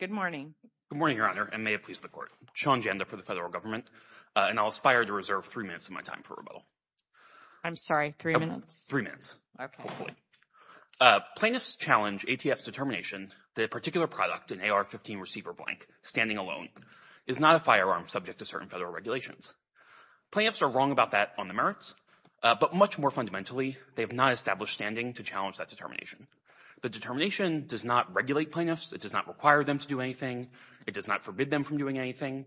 Good morning. Good morning, Your Honor, and may it please the Court. Sean Janda for the Federal Government, and I'll aspire to reserve three minutes of my time for rebuttal. I'm sorry, three minutes? Three minutes, hopefully. Plaintiffs challenge ATF's determination that a particular product, an AR-15 receiver blank, standing alone, is not a firearm subject to certain federal regulations. Plaintiffs are wrong about that on the merits, but much more fundamentally they have not established standing to challenge that determination. The determination does not regulate plaintiffs. It does not require them to do anything. It does not forbid them from doing anything.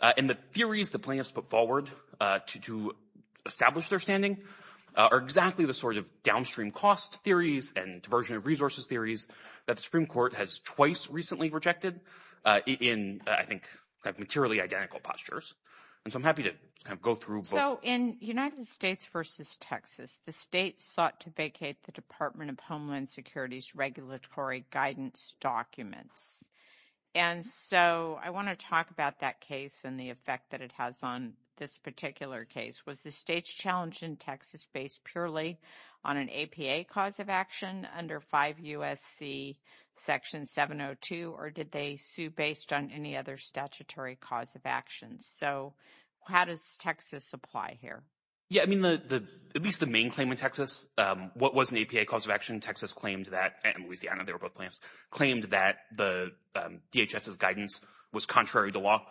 And the theories the plaintiffs put forward to establish their standing are exactly the sort of downstream cost theories and diversion of resources theories that the Supreme Court has twice recently rejected in, I think, materially identical postures. And so I'm happy to go through both. So in United States v. Texas, the states sought to vacate the Department of Homeland Security's regulatory guidance documents. And so I want to talk about that case and the effect that it has on this particular case. Was the state's challenge in Texas based purely on an APA cause of action under 5 U.S.C. Section 702, or did they sue based on any other statutory cause of action? So how does Texas apply here? Yeah, I mean, at least the main claim in Texas, what was an APA cause of action? Texas claimed that, and Louisiana, they were both plaintiffs, claimed that the DHS's guidance was contrary to law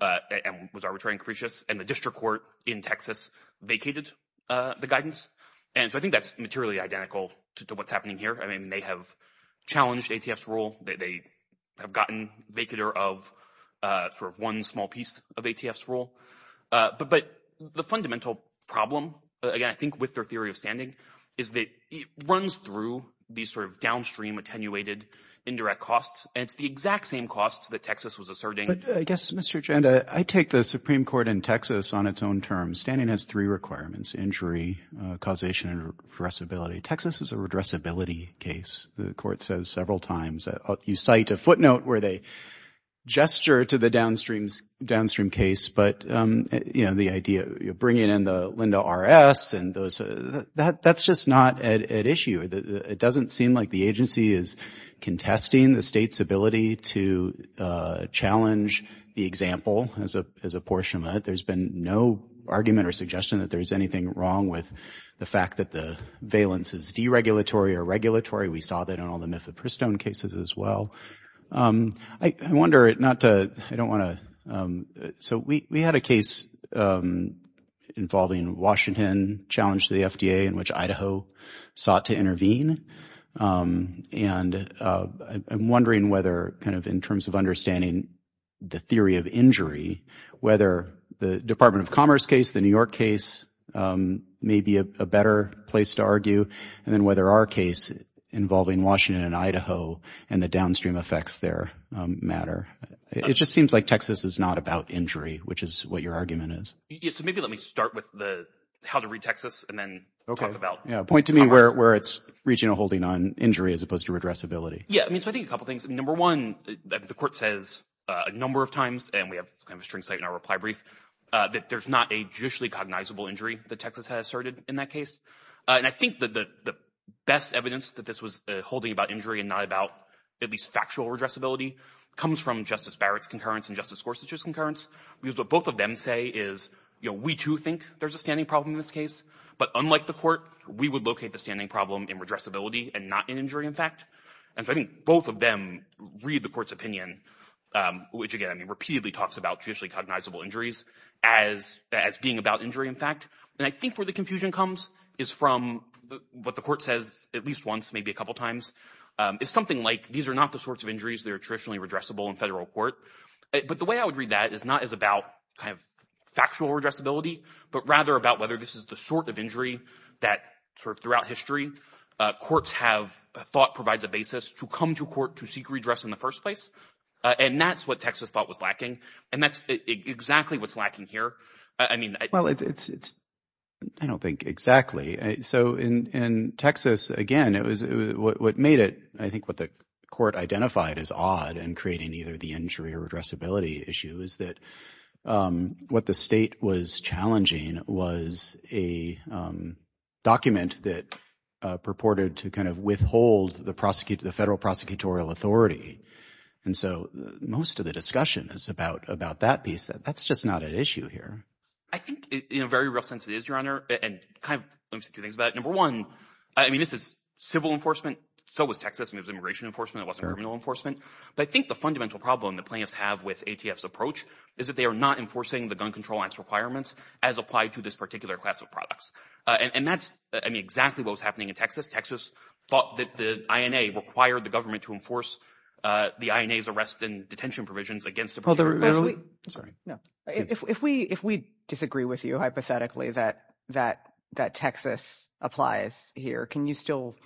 and was arbitrary and capricious. And the district court in Texas vacated the guidance. And so I think that's materially identical to what's happening here. I mean, they have challenged ATF's rule. They have gotten vacater of sort of one small piece of ATF's rule. But the fundamental problem, again, I think with their theory of standing, is that it runs through these sort of downstream attenuated indirect costs. And it's the exact same costs that Texas was asserting. But I guess, Mr. Janda, I take the Supreme Court in Texas on its own terms. Standing has three requirements, injury, causation and addressability. Texas is a addressability case. The court says several times that you cite a footnote where they gesture to the downstream case. But, you know, the idea of bringing in the Linda R.S. and those, that's just not at issue. It doesn't seem like the agency is contesting the state's ability to challenge the example as a portion of it. There's been no argument or suggestion that there's anything wrong with the fact that the valence is deregulatory or regulatory. We saw that in all the Mifflin-Pristone cases as well. I wonder, not to, I don't want to, so we had a case involving Washington, challenged the FDA, in which Idaho sought to intervene. And I'm wondering whether, kind of in terms of understanding the theory of injury, whether the Department of Commerce case, the New York case, may be a better place to argue. And then whether our case involving Washington and Idaho and the downstream effects there matter. It just seems like Texas is not about injury, which is what your argument is. Yeah, so maybe let me start with the, how to read Texas and then talk about. Yeah, point to me where it's regional holding on injury as opposed to addressability. Yeah, I mean, so I think a couple things. Number one, the court says a number of times, and we have kind of a string site in our reply brief, that there's not a judicially cognizable injury that Texas has asserted in that case. And I think the best evidence that this was holding about injury and not about at least factual addressability comes from Justice Barrett's concurrence and Justice Gorsuch's concurrence. Because what both of them say is, you know, we too think there's a standing problem in this case. But unlike the court, we would locate the standing problem in redressability and not in injury, in fact. And so I think both of them read the court's opinion, which again, I mean, repeatedly talks about judicially cognizable injuries as being about injury, in fact. And I think where the confusion comes is from what the court says at least once, maybe a couple of times, is something like, these are not the sorts of injuries that are traditionally redressable in federal court. But the way I would read that is not as about kind of factual redressability, but rather about whether this is the sort of injury that sort of throughout history, courts have thought provides a basis to come to court to seek redress in the first place. And that's what Texas thought was lacking. And that's exactly what's lacking here. I mean, well, it's I don't think exactly. So in Texas, again, it was what made it, I think what the court identified as odd and creating either the injury or redressability issue is that what the state was challenging was a document that purported to kind of withhold the prosecutor, the federal prosecutorial authority. And so most of the time, that's just not an issue here. I think in a very real sense, it is, Your Honor. And kind of let me say two things about it. Number one, I mean, this is civil enforcement. So was Texas. It was immigration enforcement. It wasn't criminal enforcement. But I think the fundamental problem that plaintiffs have with ATF's approach is that they are not enforcing the Gun Control Act's requirements as applied to this particular class of products. And that's exactly what was happening in Texas. Texas thought that the INA required the government to enforce the INA's detention provisions against the prosecutor. If we if we disagree with you hypothetically that that that Texas applies here, can you still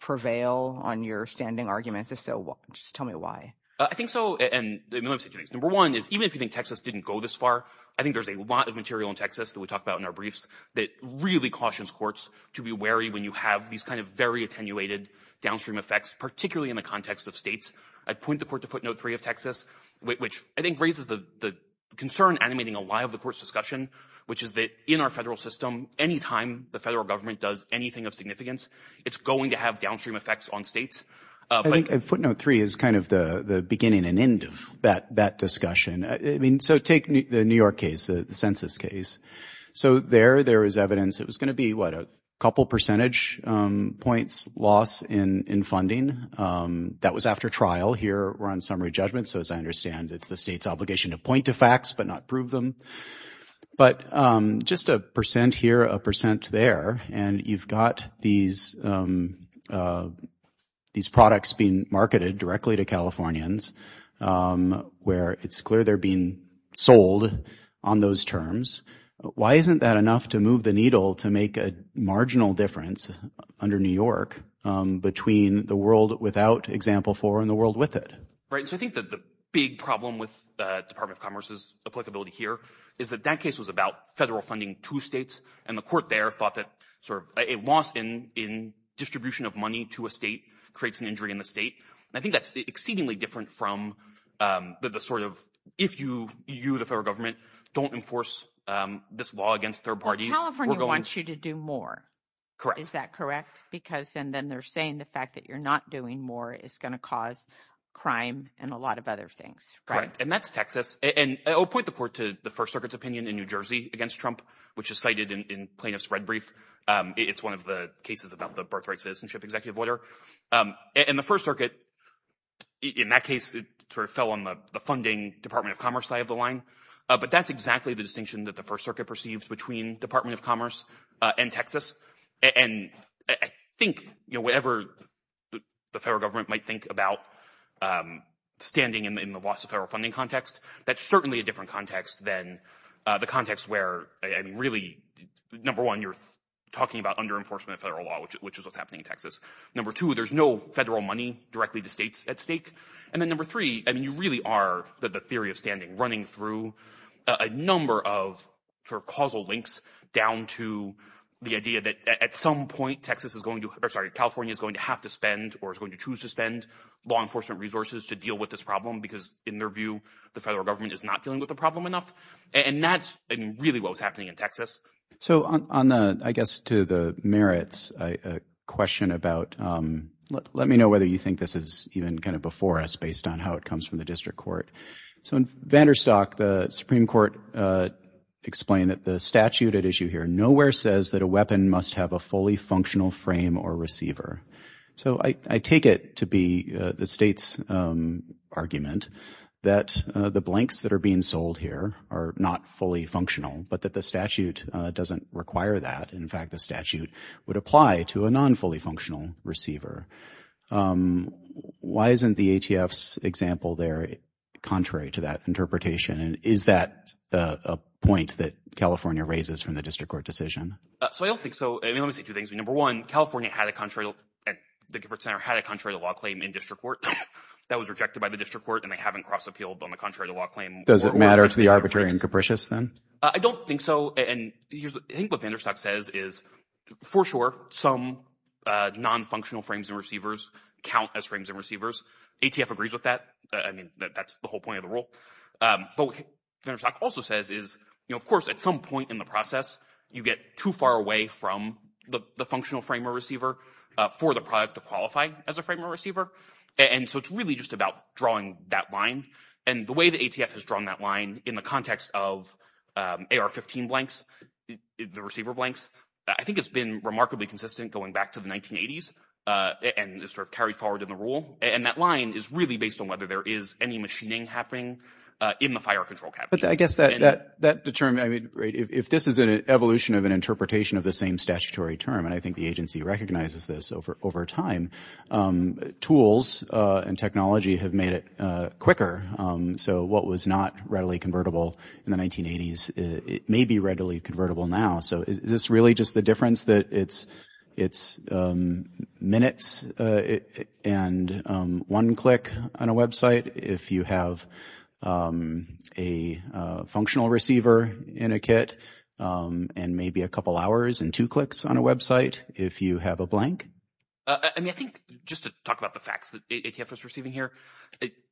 prevail on your standing arguments? If so, just tell me why. I think so. And number one is even if you think Texas didn't go this far, I think there's a lot of material in Texas that we talk about in our briefs that really cautions courts to be wary when you have these kind of very attenuated downstream effects, particularly in the context of states. I'd point the court to footnote three of Texas, which I think raises the concern animating a lot of the court's discussion, which is that in our federal system, anytime the federal government does anything of significance, it's going to have downstream effects on states. I think footnote three is kind of the beginning and end of that that discussion. I mean, so take the New York case, the census case. So there there is evidence it was going to be a couple percentage points loss in funding that was after trial. Here we're on summary judgment. So as I understand, it's the state's obligation to point to facts but not prove them. But just a percent here, a percent there. And you've got these these products being marketed directly to Californians where it's clear they're being sold on those terms. Why isn't that enough to move the needle to make a marginal difference under New York between the world without example four and the world with it? Right. So I think that the big problem with the Department of Commerce's applicability here is that that case was about federal funding to states. And the court there thought that sort of a loss in in distribution of money to a state creates an injury in the state. And I think that's exceedingly different from the sort of if you you, the federal government, don't enforce this law against third parties. California wants you to do more. Correct. Is that correct? Because and then they're saying the fact that you're not doing more is going to cause crime and a lot of other things. Correct. And that's Texas. And I'll point the court to the First Circuit's opinion in New Jersey against Trump, which is cited in plaintiff's red brief. It's one of the cases about the birthright citizenship executive order in the First Circuit. In that case, it sort of fell on the funding Department of Commerce side of the line. But that's exactly the distinction that the First Circuit perceived between Department of Commerce and Texas. And I think, you know, whatever the federal government might think about standing in the loss of federal funding context, that's certainly a different context than the context where, I mean, really, number one, you're talking about under enforcement of federal law, which is what's happening in Texas. Number two, there's no federal money directly to states at stake. And then number three, I mean, you really are that the theory of standing running through a number of sort of causal links down to the idea that at some point, Texas is going to or sorry, California is going to have to spend or is going to choose to spend law enforcement resources to deal with this problem, because in their view, the federal government is not dealing with the problem enough. And that's really what was happening in Texas. So on the I guess to the merits, a question about let me know whether you think this is even kind of before us based on how it comes from the district court. So in Vanderstock, the Supreme Court explained that the statute at issue here nowhere says that a weapon must have a fully functional frame or receiver. So I take it to be the state's argument that the blanks that are being sold here are not fully functional, but that the statute doesn't require that. In fact, the statute would apply to a non fully functional receiver. Why isn't the ATF's example there? Contrary to that interpretation, is that a point that California raises from the district court decision? So I don't think so. I mean, let me say two things. Number one, California had a country at the center had a contrary to law claim in district court that was rejected by the district court and they haven't cross appealed on the contrary to law claim. Does it matter to the arbitrary and capricious then? I don't think so. And here's I think what Vanderstock says is for sure, some non-functional frames and receivers count as frames and receivers. ATF agrees with that. I mean, that's the whole point of the rule. But what Vanderstock also says is, you know, of course, at some point in the process, you get too far away from the functional frame or receiver for the product to qualify as a frame or receiver. And so it's really just about drawing that line. And the way the ATF has drawn that line in the context of AR-15 blanks, the receiver blanks, I think it's been remarkably consistent going back to the 1980s and sort of carried forward in the rule. And that line is really based on whether there is any machining happening in the fire control. But I guess that that determined I mean, if this is an evolution of an interpretation of the same statutory term, and I think the agency recognizes this over over time, tools and technology have made it quicker. So what was not readily convertible in the 1980s, it may be readily convertible now. So is this really just the difference that it's it's minutes and one click on a website if you have a functional receiver in a kit and maybe a couple hours and two clicks on a website if you have a blank? I mean, I think just to talk about the facts that ATF is receiving here,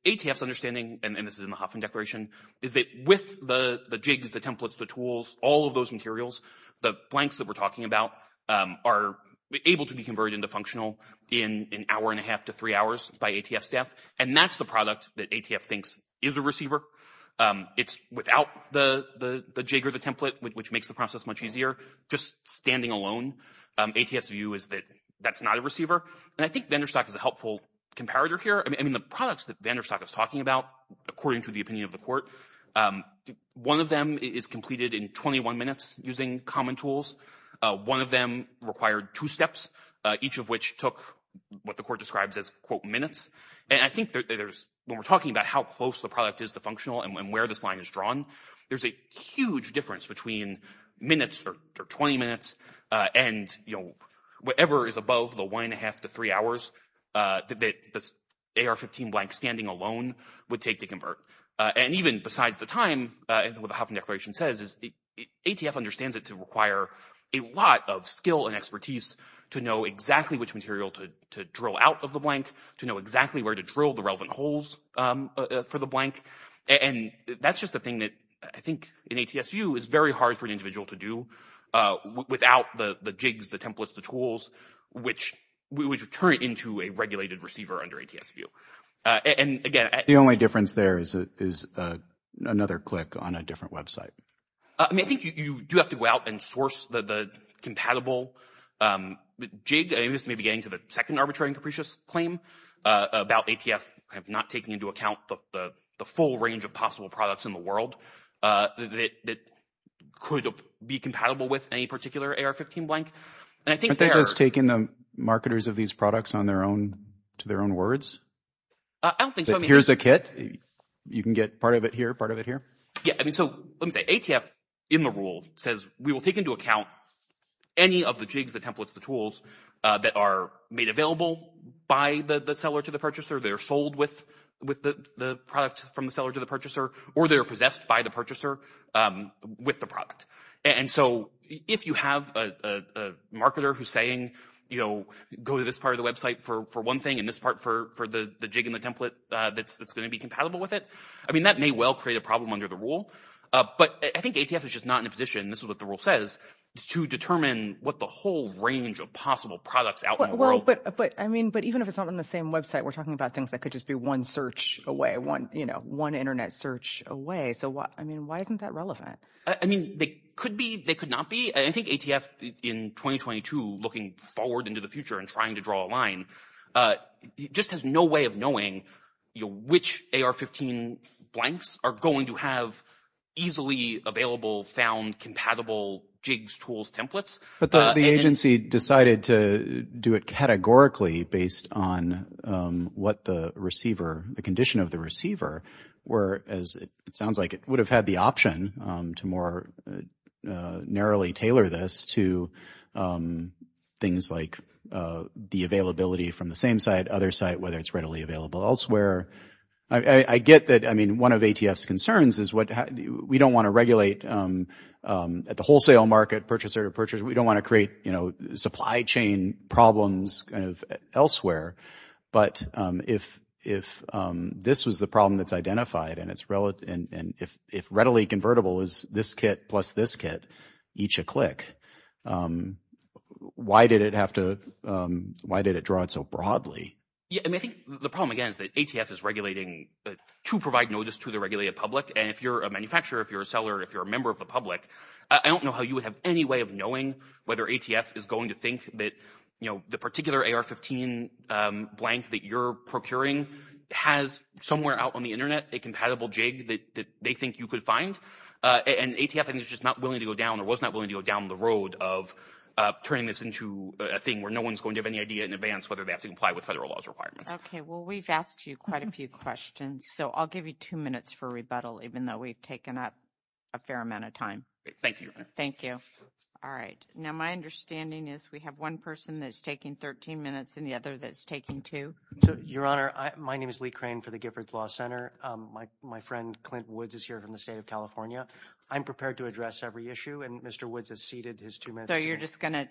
ATF's understanding, and this is in the Hoffman Declaration, is that with the jigs, the templates, the tools, all of those materials, the blanks that we're talking about are able to be converted into functional in an hour and a half to three hours by ATF staff. And that's the product that ATF thinks is a receiver. It's without the jig or the template, which makes the process much easier. Just standing alone, ATF's view is that that's not a receiver. And I think vendor stock is a product that vendor stock is talking about, according to the opinion of the court. One of them is completed in 21 minutes using common tools. One of them required two steps, each of which took what the court describes as quote minutes. And I think there's when we're talking about how close the product is to functional and where this line is drawn, there's a huge difference between minutes or 20 minutes and whatever is above the one and a half to three hours that the AR-15 blank standing alone would take to convert. And even besides the time, and what the Hoffman Declaration says, is ATF understands it to require a lot of skill and expertise to know exactly which material to drill out of the blank, to know exactly where to drill the relevant holes for the blank. And that's just the thing that I think in ATSU is very hard for an individual to do without the jigs, the templates, the tools, which would turn it into a regulated receiver under ATS view. And again— The only difference there is another click on a different website. I mean, I think you do have to go out and source the compatible jig. This may be getting to the second arbitrary and capricious claim about ATF not taking into account the full range of possible products in the world that could be compatible with any particular AR-15 blank. And I think there— Aren't they just taking the marketers of these products on their own, to their own words? I don't think so. Here's a kit, you can get part of it here, part of it here. Yeah, I mean, so let me say ATF, in the rule, says we will take into account any of the jigs, the templates, the tools that are made available by the seller to the purchaser, they're sold with the product from the seller to the purchaser, or they're possessed by the purchaser with the product. And so if you have a marketer who's saying, you know, go to this part of the website for one thing and this part for the jig and the template that's going to be compatible with it, I mean, that may well create a problem under the rule. But I think ATF is just not in a position, this is what the rule says, to determine what the whole range of possible products out in the world— Well, but I mean, but even if it's not on the same website, we're talking about things that could just be one search away, one, you know, one internet search away. So what, I mean, why isn't that relevant? I mean, they could be, they could not be. I think ATF in 2022, looking forward into the future and trying to draw a line, just has no way of knowing which AR-15 blanks are going to have easily available, found, compatible jigs, tools, templates. But the agency decided to do it categorically based on what the receiver, the condition of the receiver were, as it sounds like it would have had the option to more narrowly tailor this to things like the availability from the same site, other site, whether it's readily available elsewhere. I get that. I mean, one of ATF's concerns is what we don't want to regulate at the wholesale market, purchaser-to-purchaser. We don't want to create, you know, supply chain problems kind of elsewhere. But if this was the problem that's identified, and if readily convertible is this kit plus this kit, each a click, why did it have to, why did it draw it so broadly? Yeah, I mean, I think the problem, again, is that ATF is regulating to provide notice to the regulated public. And if you're a manufacturer, if you're a seller, if you're a member of the public, I don't know how you would have any way of knowing whether ATF is going to think that, you know, the particular AR-15 blank that you're procuring has somewhere out on the internet a compatible jig that they think you could find. And ATF is just not willing to go down or was not willing to go down the road of turning this into a thing where no one's going to have any idea in advance whether they have to comply with federal laws requirements. Okay, well, we've asked you quite a few questions, so I'll give you two minutes for rebuttal, even though we've taken up a fair amount of time. Thank you. Thank you. All right. Now, my understanding is we have one person that's taking 13 minutes and the other that's taking two. Your Honor, my name is Lee Crane for the Giffords Law Center. My friend, Clint Woods, is here from the state of California. I'm prepared to address every issue, and Mr. Woods has ceded his two minutes. So you're just going to,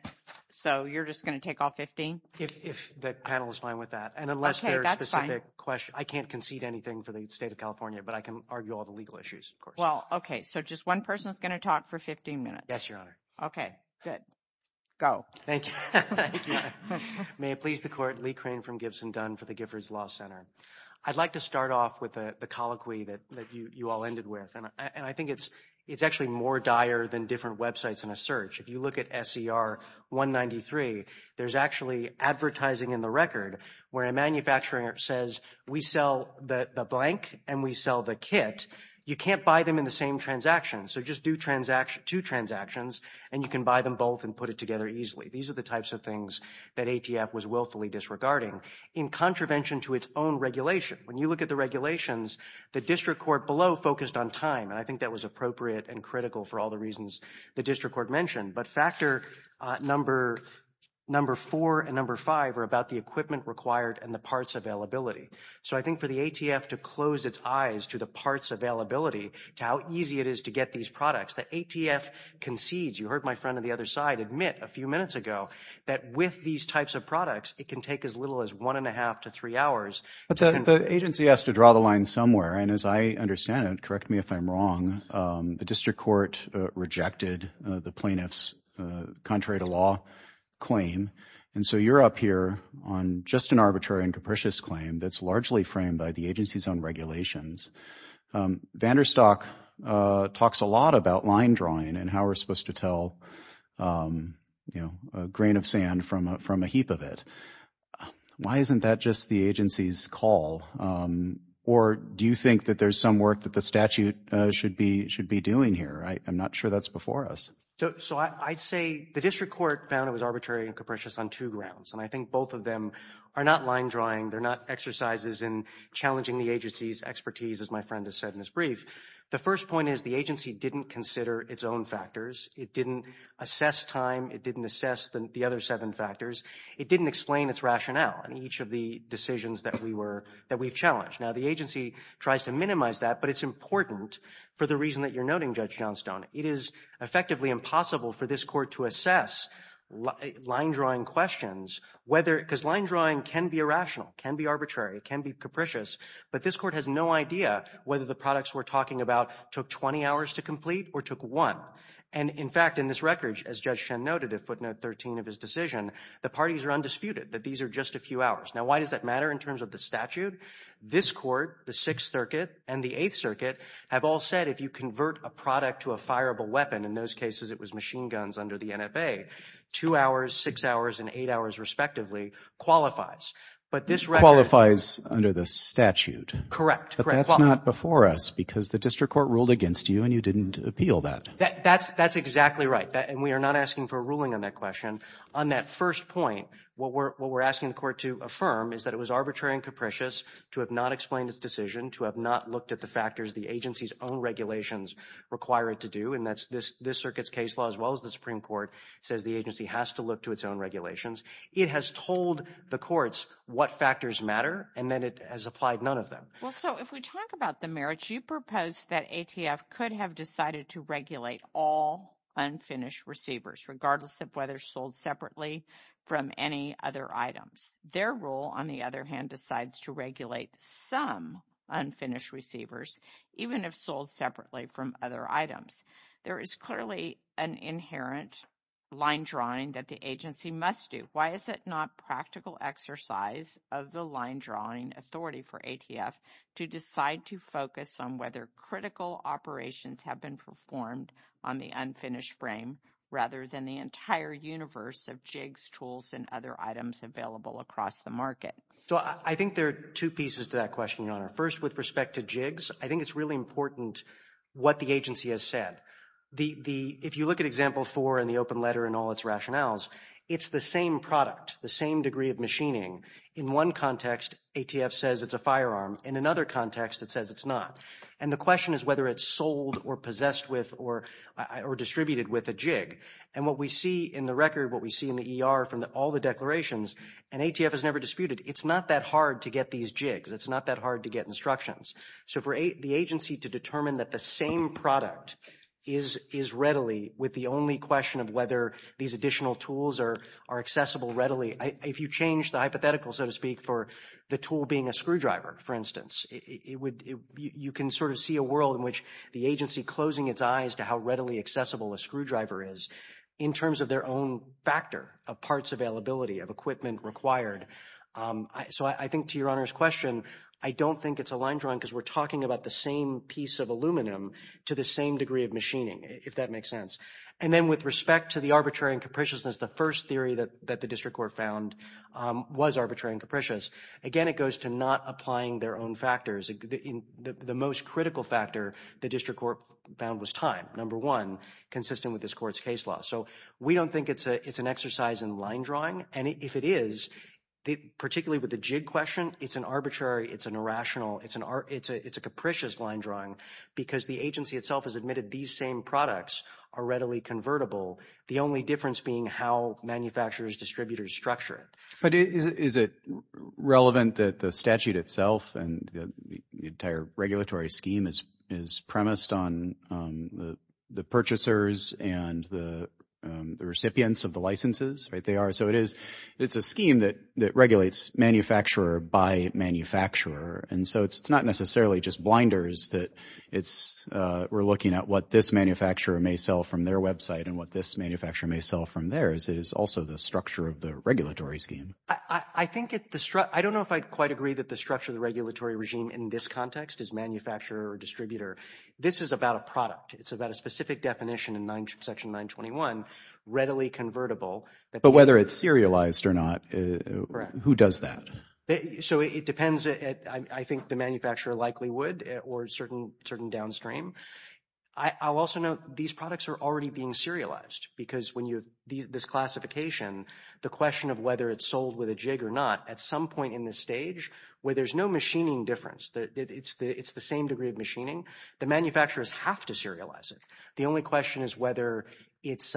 so you're just going to take all 15? If the panel is fine with that. And unless there's a specific question, I can't concede anything for the state of California, but I can argue all the legal issues. Well, okay. So just one person is going to talk for 15 minutes. Yes, Your Honor. Okay, good. Go. Thank you. May it please the Court, Lee Crane from Gibson Dunn for the Giffords Law Center. I'd like to start off with the colloquy that you all ended with. And I think it's actually more dire than different websites in a search. If you look at SCR193, there's actually advertising in the record where a manufacturer says, we sell the blank and we sell the kit. You can't buy them in the same transaction. So just do two transactions and you can buy them both and put it together easily. These are the types of things that ATF was willfully disregarding in contravention to its own regulation. When you look at the regulations, the district court below focused on time. And I think that was appropriate and critical for all the reasons the district court mentioned. But factor number four and number five are about the equipment required and the parts availability. So I think for the ATF to close its eyes to the parts availability, to how easy it is to get these products, the ATF concedes. You heard my friend on the other side admit a few minutes ago that with these types of products, it can take as little as one and a half to three hours. But the agency has to draw the line somewhere. And as I understand it, correct me if I'm wrong, the district court rejected the plaintiff's contrary to law claim. And so you're up here on just an arbitrary and capricious claim that's largely framed by the agency's own regulations. Vanderstock talks a lot about line drawing and how we're supposed to tell, you know, a grain of sand from a heap of it. Why isn't that just the agency's call? Or do you think that there's some work that the statute should be should be doing here? I'm not sure that's before us. So I'd say the district court found it was arbitrary and capricious on two grounds. And I think both of them are not line drawing. They're not exercises in challenging the agency's expertise, as my friend has said in his brief. The first point is the agency didn't consider its own factors. It didn't assess time. It didn't assess the other seven factors. It challenged. Now, the agency tries to minimize that, but it's important for the reason that you're noting, Judge Johnstone. It is effectively impossible for this court to assess line drawing questions, whether because line drawing can be irrational, can be arbitrary, can be capricious. But this court has no idea whether the products we're talking about took 20 hours to complete or took one. And in fact, in this record, as Judge Shen noted, a footnote 13 of his decision, the parties are undisputed that these are just a few hours. Now, why does that matter? This court, the Sixth Circuit and the Eighth Circuit have all said if you convert a product to a fireable weapon, in those cases it was machine guns under the NFA, two hours, six hours and eight hours respectively qualifies. But this record... Qualifies under the statute. Correct. But that's not before us because the district court ruled against you and you didn't appeal that. That's exactly right. And we are not asking for a ruling on that question. On that first point, what we're asking the court to affirm is that it was arbitrary and capricious to have not explained its decision, to have not looked at the factors the agency's own regulations require it to do. And that's this, this circuit's case law, as well as the Supreme Court says the agency has to look to its own regulations. It has told the courts what factors matter and then it has applied none of them. Well, so if we talk about the merits, you propose that ATF could have decided to regulate all unfinished receivers, regardless of whether sold separately from any other items. Their rule, on the other hand, decides to regulate some unfinished receivers, even if sold separately from other items. There is clearly an inherent line drawing that the agency must do. Why is it not practical exercise of the line drawing authority for ATF to decide to focus on whether critical operations have been performed on the unfinished frame rather than the entire universe of jigs, tools, and other items available across the market? So I think there are two pieces to that question, Your Honor. First, with respect to jigs, I think it's really important what the agency has said. If you look at example four in the open letter and all its rationales, it's the same product, the same degree of machining. In one context, ATF says it's a firearm. In another context, it says it's not. And the question is whether it's sold or possessed with or distributed with a jig. And what we see in the record, what we see in the ER from all the declarations, and ATF has never disputed, it's not that hard to get these jigs. It's not that hard to get instructions. So for the agency to determine that the same product is readily with the only question of whether these additional tools are accessible readily, if you change the hypothetical, so to speak, for the tool being a screwdriver, for instance, you can sort of see a world in which the agency closing its eyes to how readily accessible a screwdriver is in terms of their own factor of parts availability, of equipment required. So I think to Your Honor's question, I don't think it's a line drawing because we're talking about the same piece of aluminum to the same degree of machining, if that makes sense. And then with respect to the arbitrary and capriciousness, the first theory that the district court found was arbitrary and capricious. Again, it goes to not applying their own factors. The most critical factor the district court found was time, number one, consistent with this court's case law. So we don't think it's an exercise in line drawing. And if it is, particularly with the jig question, it's an arbitrary, it's an irrational, it's a capricious line drawing because the agency itself has admitted these same products are readily convertible. The only difference being how distributors structure it. But is it relevant that the statute itself and the entire regulatory scheme is premised on the purchasers and the recipients of the licenses, right? They are. So it's a scheme that regulates manufacturer by manufacturer. And so it's not necessarily just blinders that we're looking at what this manufacturer may sell from their website and what this manufacturer may sell from theirs. It is also the structure of the regulatory scheme. I don't know if I'd quite agree that the structure of the regulatory regime in this context is manufacturer or distributor. This is about a product. It's about a specific definition in section 921, readily convertible. But whether it's serialized or not, who does that? So it depends. I think the manufacturer likely would or certain downstream. I'll also note these products are already being serialized because when you have this classification, the question of whether it's sold with a jig or not, at some point in this stage where there's no machining difference, it's the same degree of machining, the manufacturers have to serialize it. The only question is whether it's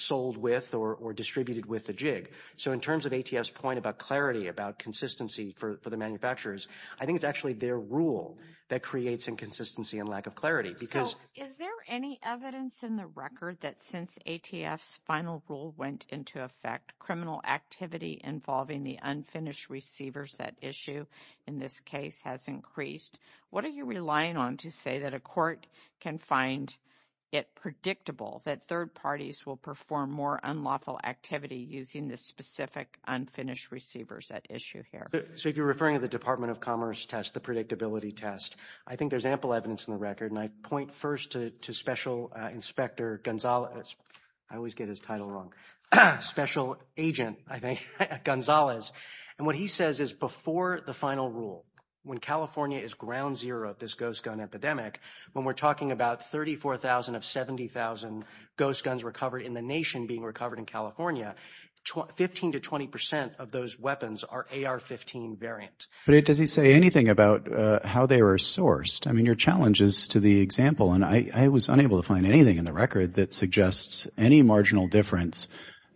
sold with or distributed with a jig. So in terms of ATF's point about clarity, about consistency for the manufacturers, I think it's their rule that creates inconsistency and lack of clarity. So is there any evidence in the record that since ATF's final rule went into effect, criminal activity involving the unfinished receivers at issue in this case has increased? What are you relying on to say that a court can find it predictable that third parties will perform more unlawful activity using the specific unfinished receivers at issue here? So if you're referring to the Department of Commerce test, the predictability test, I think there's ample evidence in the record. And I point first to Special Inspector Gonzalez. I always get his title wrong. Special Agent, I think, Gonzalez. And what he says is before the final rule, when California is ground zero of this ghost gun epidemic, when we're talking about 34,000 of 70,000 ghost guns recovered in the nation being recovered in California, 15 to 20 percent of those weapons are AR-15 variant. But does he say anything about how they were sourced? I mean, your challenge is to the example, and I was unable to find anything in the record that suggests any marginal difference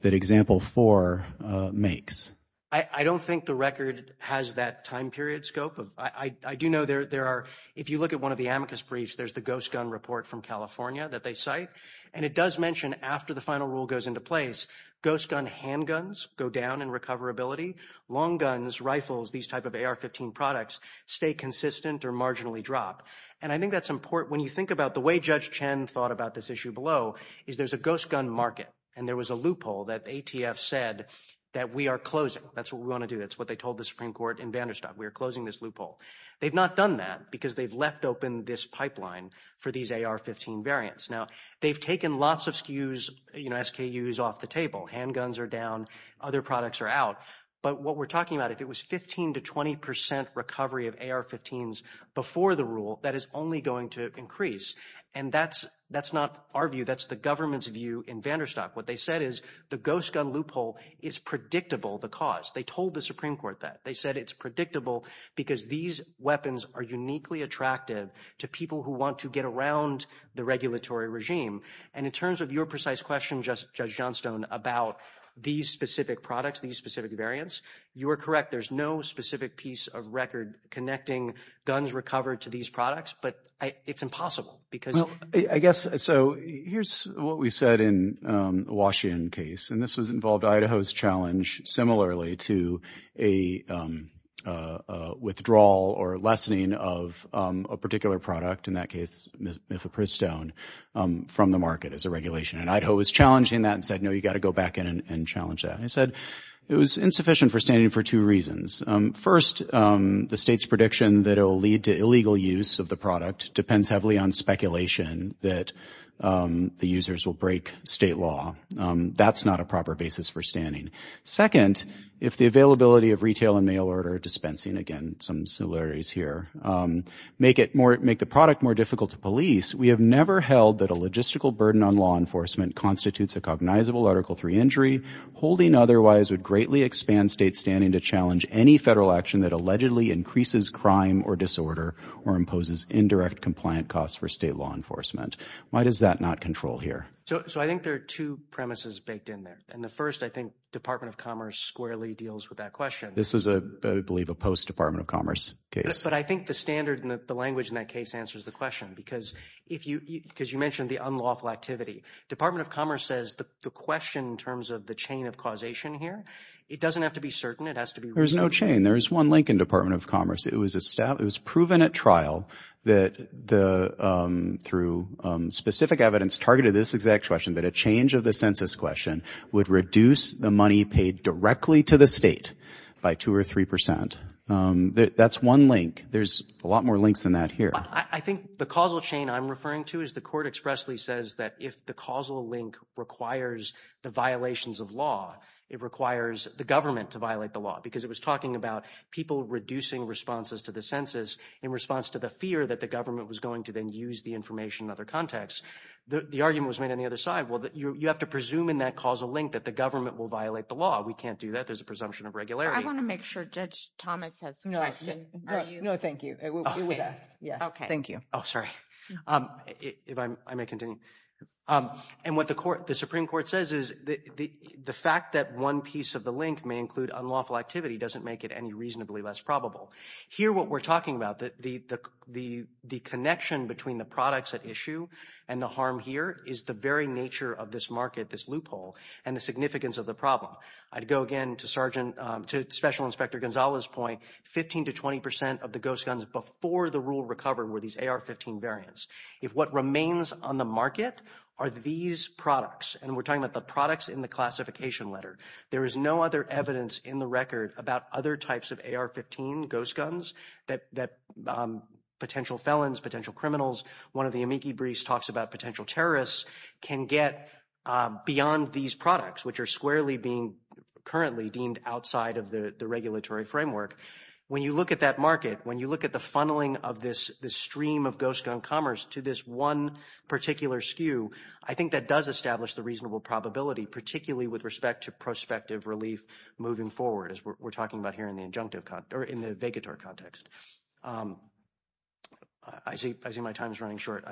that example four makes. I don't think the record has that time period scope. I do know there are, if you look at one of the amicus briefs, there's the ghost gun report from California that they cite. And it does mention after the final rule goes into place, ghost gun handguns go down in recoverability. Long guns, rifles, these type of AR-15 products stay consistent or marginally drop. And I think that's important when you think about the way Judge Chen thought about this issue below is there's a ghost gun market, and there was a loophole that ATF said that we are closing. That's what we want to do. That's what they told the Supreme Court in Vanderstock. We are closing this loophole. They've not done that because they've left open this pipeline for these AR-15 variants. Now, they've taken lots of SKUs off the table. Handguns are down. Other products are out. But what we're talking about, if it was 15 to 20 percent recovery of AR-15s before the rule, that is only going to increase. And that's not our view. That's the government's view in Vanderstock. What they said is the ghost gun loophole is predictable, the cause. They told the Supreme Court that. They said it's predictable because these weapons are uniquely attractive to people who want to get around the regulatory regime. And in terms of your precise question, Judge Johnstone, about these specific products, these specific variants, you are correct. There's no specific piece of record connecting guns recovered to these products, but it's impossible because— Well, I guess—so here's what we said in the Washington case, and this was involved Idaho's challenge, similarly to a withdrawal or lessening of a particular product, in that case, Mifepristone, from the market as a regulation. And Idaho was challenging that and said, no, you've got to go back in and challenge that. I said it was insufficient for standing for two reasons. First, the state's prediction that it will lead to illegal use of the product depends heavily on speculation that the users will break state law. That's not a proper basis for standing. Second, if the availability of retail and mail order dispensing—again, some similarities here—make the product more difficult to police, we have never held that a logistical burden on law enforcement constitutes a cognizable Article III injury. Holding otherwise would greatly expand state standing to challenge any federal action that allegedly increases crime or disorder or imposes indirect compliant costs for state law enforcement. Why does that not control here? So I think there are two premises baked in there. And the first, Department of Commerce squarely deals with that question. This is, I believe, a post-Department of Commerce case. But I think the standard and the language in that case answers the question. Because you mentioned the unlawful activity. Department of Commerce says the question in terms of the chain of causation here, it doesn't have to be certain. It has to be— There's no chain. There's one link in Department of Commerce. It was proven at trial that through specific evidence targeted this exact question, that a change of the census question would reduce the money paid directly to the state by 2 or 3 percent. That's one link. There's a lot more links than that here. I think the causal chain I'm referring to is the court expressly says that if the causal link requires the violations of law, it requires the government to violate the law. Because it was talking about people reducing responses to the census in response to the fear that the government was going to then use the information in other contexts. The argument was made on the other side. Well, you have to presume in that causal link that the government will violate the law. We can't do that. There's a presumption of regularity. I want to make sure Judge Thomas has a question. No, thank you. It was asked. Thank you. Oh, sorry. If I may continue. And what the Supreme Court says is the fact that one piece of the link may include unlawful activity doesn't make it any reasonably less probable. Here, what we're talking about, the connection between the products at issue and the harm here is the very nature of this market, this loophole, and the significance of the problem. I'd go again to Special Inspector Gonzalez's point. 15 to 20 percent of the ghost guns before the rule recovered were these AR-15 variants. If what remains on the market are these products, and we're talking about the products in the classification letter, there is no other evidence in the record about other types of AR-15 ghost guns that potential felons, potential criminals—one of the amici briefs talks about potential terrorists—can get beyond these products, which are squarely being currently deemed outside of the regulatory framework. When you look at that market, when you look at the funneling of this stream of ghost gun commerce to this one particular skew, I think that does establish the reasonable probability, particularly with respect to prospective relief moving forward, as we're talking about here in the adjunctive context, or in the vegator context. I see my time is running short.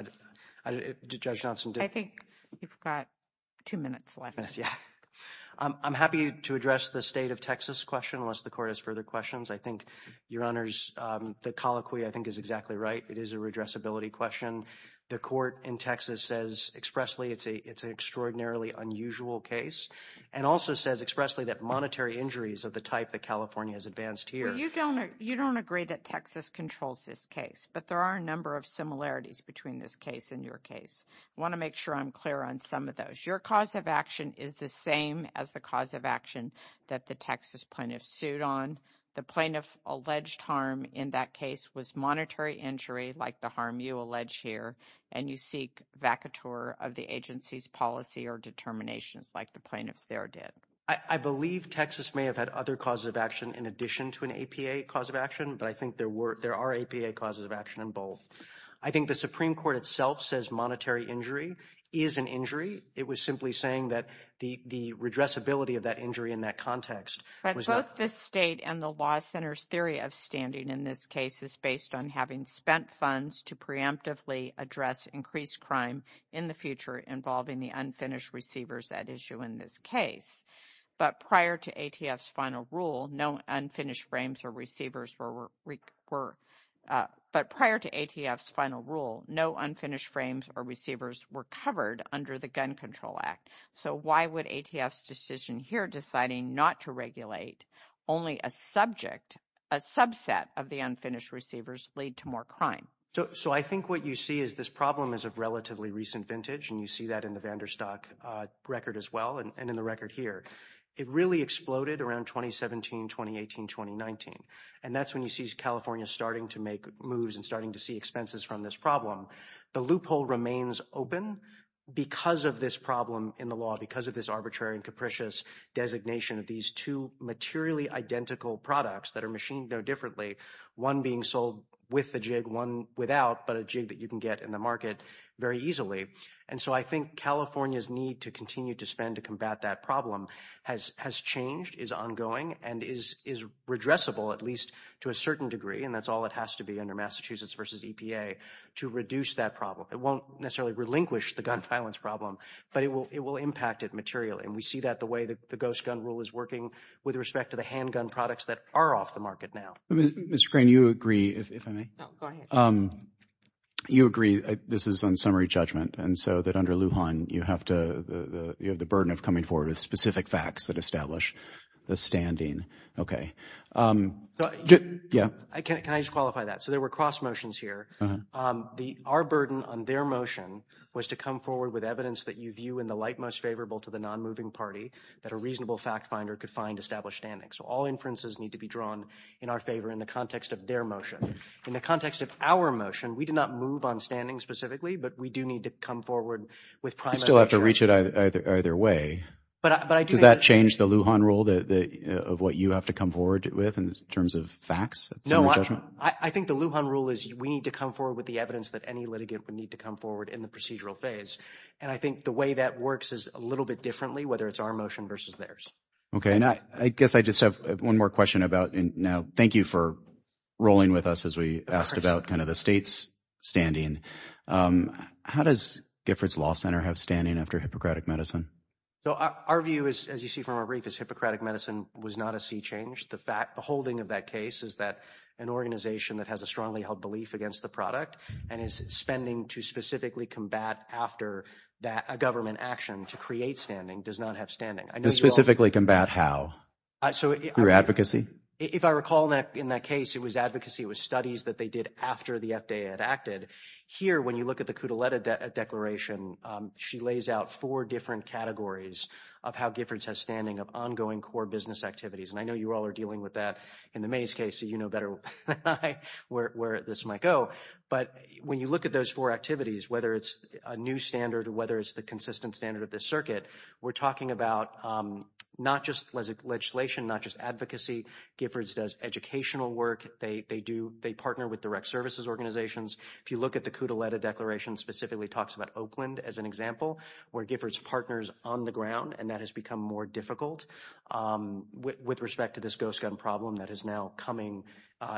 Judge Johnson? I think you've got two minutes left. Yes, yeah. I'm happy to address the state of Texas question, unless the Court has further questions. I think, Your Honors, the colloquy, I think, is exactly right. It is a redressability question. The Court in Texas says expressly it's an extraordinarily unusual case, and also says expressly that monetary injury is of the type that California has advanced here. Well, you don't agree that Texas controls this case, but there are a number of similarities between this case and your case. I want to make sure I'm clear on some of those. Your cause of action is the same as the cause of action that the Texas plaintiff sued on. The plaintiff alleged harm in that case was monetary injury, like the harm you allege here, and you seek vacateur of the agency's policy or determinations, like the plaintiffs there did. I believe Texas may have had other causes of action in addition to an APA cause of action, but I think there are APA causes of action in both. I think the Supreme Court itself says monetary injury is an injury. It was simply saying that the redressability of that injury in that context was not... The Law Center's theory of standing in this case is based on having spent funds to preemptively address increased crime in the future involving the unfinished receivers at issue in this case. But prior to ATF's final rule, no unfinished frames or receivers were... But prior to ATF's final rule, no unfinished frames or receivers were covered under the Gun Control Act. So why would ATF's decision here deciding not to regulate only a subject, a subset of the unfinished receivers, lead to more crime? So I think what you see is this problem is of relatively recent vintage, and you see that in the Vanderstock record as well and in the record here. It really exploded around 2017, 2018, 2019, and that's when you see California starting to make moves and starting to see expenses from this problem. The loophole remains open because of this problem in the law, because of this arbitrary and capricious designation of these two materially identical products that are machined no differently, one being sold with a jig, one without, but a jig that you can get in the market very easily. And so I think California's need to continue to spend to combat that problem has changed, is ongoing, and is redressable at least to a certain degree, and that's all it has to be Massachusetts v. EPA to reduce that problem. It won't necessarily relinquish the gun violence problem, but it will impact it materially, and we see that the way the ghost gun rule is working with respect to the handgun products that are off the market now. I mean, Mr. Crane, you agree, if I may. You agree, this is on summary judgment, and so that under Lujan, you have to, you have the burden of coming forward with specific facts that establish the standing. Okay. Can I just qualify that? So there were cross motions here. Our burden on their motion was to come forward with evidence that you view in the light most favorable to the non-moving party, that a reasonable fact finder could find established standing. So all inferences need to be drawn in our favor in the context of their motion. In the context of our motion, we did not move on standing specifically, but we do need to come forward with prime evidence. You still have to reach it either way. Does that change the Lujan rule of what you have to come forward with in terms of facts? No, I think the Lujan rule is we need to come forward with the evidence that any litigant would need to come forward in the procedural phase. And I think the way that works is a little bit differently, whether it's our motion versus theirs. Okay. And I guess I just have one more question about, and now thank you for rolling with us as we asked about kind of the state's standing. How does Giffords Law Center have standing after Hippocratic Medicine? So our view is, as you see from our brief, is Hippocratic Medicine was not a sea change. The holding of that case is that an organization that has a strongly held belief against the product and is spending to specifically combat after a government action to create standing does not have standing. To specifically combat how? Through advocacy? If I recall in that case, it was advocacy. It was studies that they did after the FDA had acted. Here, when you look at the Cudeleta declaration, she lays out four different categories of how Giffords has standing of ongoing core business activities. And I know you all are dealing with that in the Mays case, so you know better than I where this might go. But when you look at those four activities, whether it's a new standard or whether it's the consistent standard of the circuit, we're talking about not just legislation, not just advocacy. Giffords does educational work. They partner with direct services organizations. If you look at the Cudeleta declaration, specifically talks about Oakland as an example, where Giffords partners on the ground, and that has become more difficult with respect to this ghost gun problem that is now coming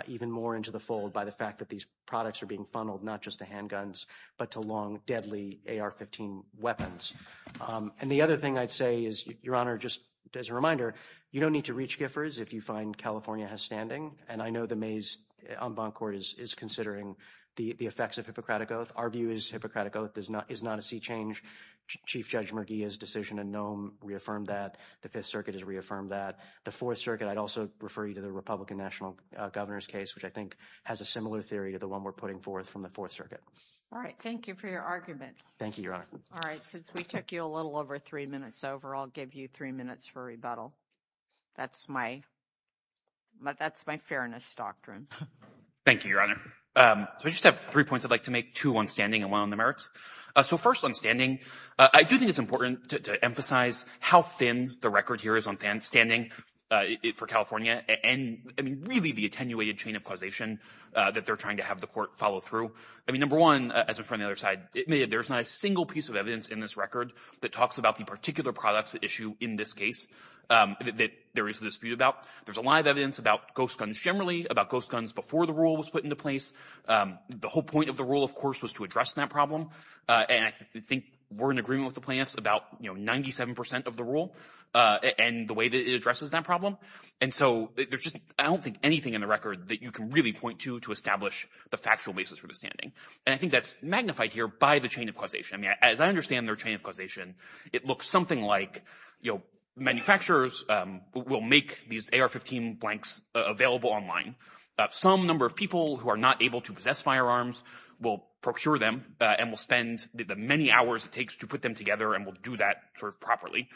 even more into the fold by the fact that these products are being funneled, not just to handguns, but to long, deadly AR-15 weapons. And the other thing I'd say is, Your Honor, just as a reminder, you don't need to reach Giffords if you find California has standing. And I know the Mays en banc court is considering the effects of Hippocratic Oath. Our view is Hippocratic Oath is not a sea change. Chief Judge Murguia's decision in Nome reaffirmed that. The Fifth Circuit has reaffirmed that. The Fourth Circuit, I'd also refer you to the Republican National Governor's case, which I think has a similar theory to the one we're putting forth from the Fourth Circuit. All right. Thank you for your argument. Thank you, Your Honor. All right. Since we took you a little over three minutes over, I'll give you three minutes for rebuttal. That's my fairness doctrine. Thank you, Your Honor. So I just have three points I'd like to make, two on standing and one on the merits. So first on standing, I do think it's important to emphasize how thin the record here is on standing for California and, I mean, really the attenuated chain of causation that they're trying to have the court follow through. I mean, number one, as before on the other side, there's not a single piece of evidence in this record that talks about the particular products at issue in this case that there is a dispute about. There's a lot of generally about ghost guns before the rule was put into place. The whole point of the rule, of course, was to address that problem. And I think we're in agreement with the plaintiffs about, you know, 97 percent of the rule and the way that it addresses that problem. And so there's just, I don't think anything in the record that you can really point to to establish the factual basis for the standing. And I think that's magnified here by the chain of causation. I mean, as I understand their chain of causation, it looks something like, manufacturers will make these AR-15 blanks available online. Some number of people who are not able to possess firearms will procure them and will spend the many hours it takes to put them together and will do that sort of properly,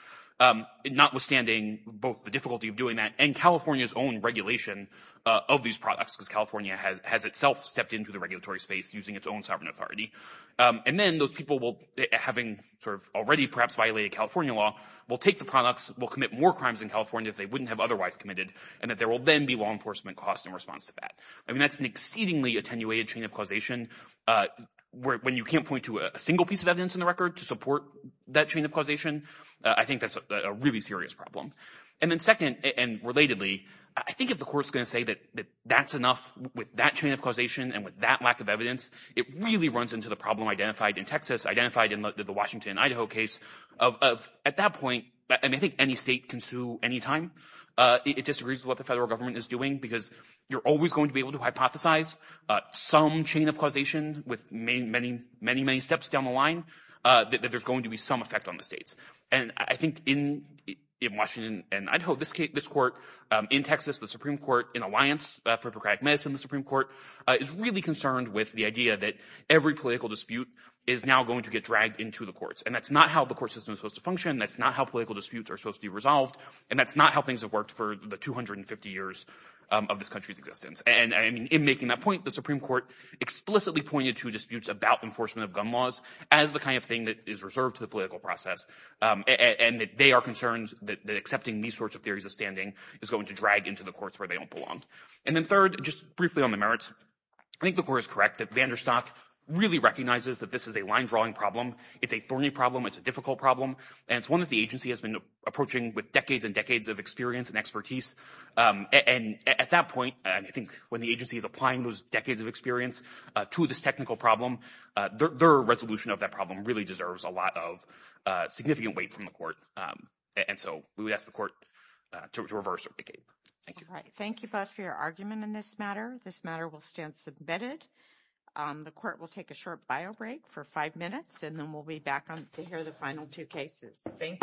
notwithstanding both the difficulty of doing that and California's own regulation of these products, because California has itself stepped into the regulatory space using its own sovereign authority. And then those people will, having sort of already perhaps violated California law, will take the products, will commit more crimes in California if they wouldn't have otherwise committed, and that there will then be law enforcement costs in response to that. I mean, that's an exceedingly attenuated chain of causation. When you can't point to a single piece of evidence in the record to support that chain of causation, I think that's a really serious problem. And then second, and relatedly, I think if the Court's going to say that that's enough with that chain of causation and with that lack of evidence, it really runs into the problem identified in the Washington and Idaho case of, at that point, I mean, I think any state can sue any time. It disagrees with what the federal government is doing, because you're always going to be able to hypothesize some chain of causation with many, many, many, many steps down the line, that there's going to be some effect on the states. And I think in Washington and Idaho, this Court, in Texas, the Supreme Court, in Alliance for Procratic Medicine, the Supreme Court, is really concerned with the idea that every political dispute is now going to get dragged into the courts. And that's not how the court system is supposed to function. That's not how political disputes are supposed to be resolved. And that's not how things have worked for the 250 years of this country's existence. And I mean, in making that point, the Supreme Court explicitly pointed to disputes about enforcement of gun laws as the kind of thing that is reserved to the political process, and that they are concerned that accepting these sorts of theories of standing is going to drag into the courts where they don't belong. And then third, just briefly on the merits, I think the Court is correct that Vanderstock really recognizes that this is a line-drawing problem. It's a thorny problem. It's a difficult problem. And it's one that the agency has been approaching with decades and decades of experience and expertise. And at that point, and I think when the agency is applying those decades of experience to this technical problem, their resolution of that problem really deserves a lot of significant weight from the Court. And so we would ask the Court to reverse or vacate. Thank you. Thank you both for your argument in this matter. This matter will stand submitted. The Court will take a short bio break for five minutes, and then we'll be back to hear the final two cases. Thank you.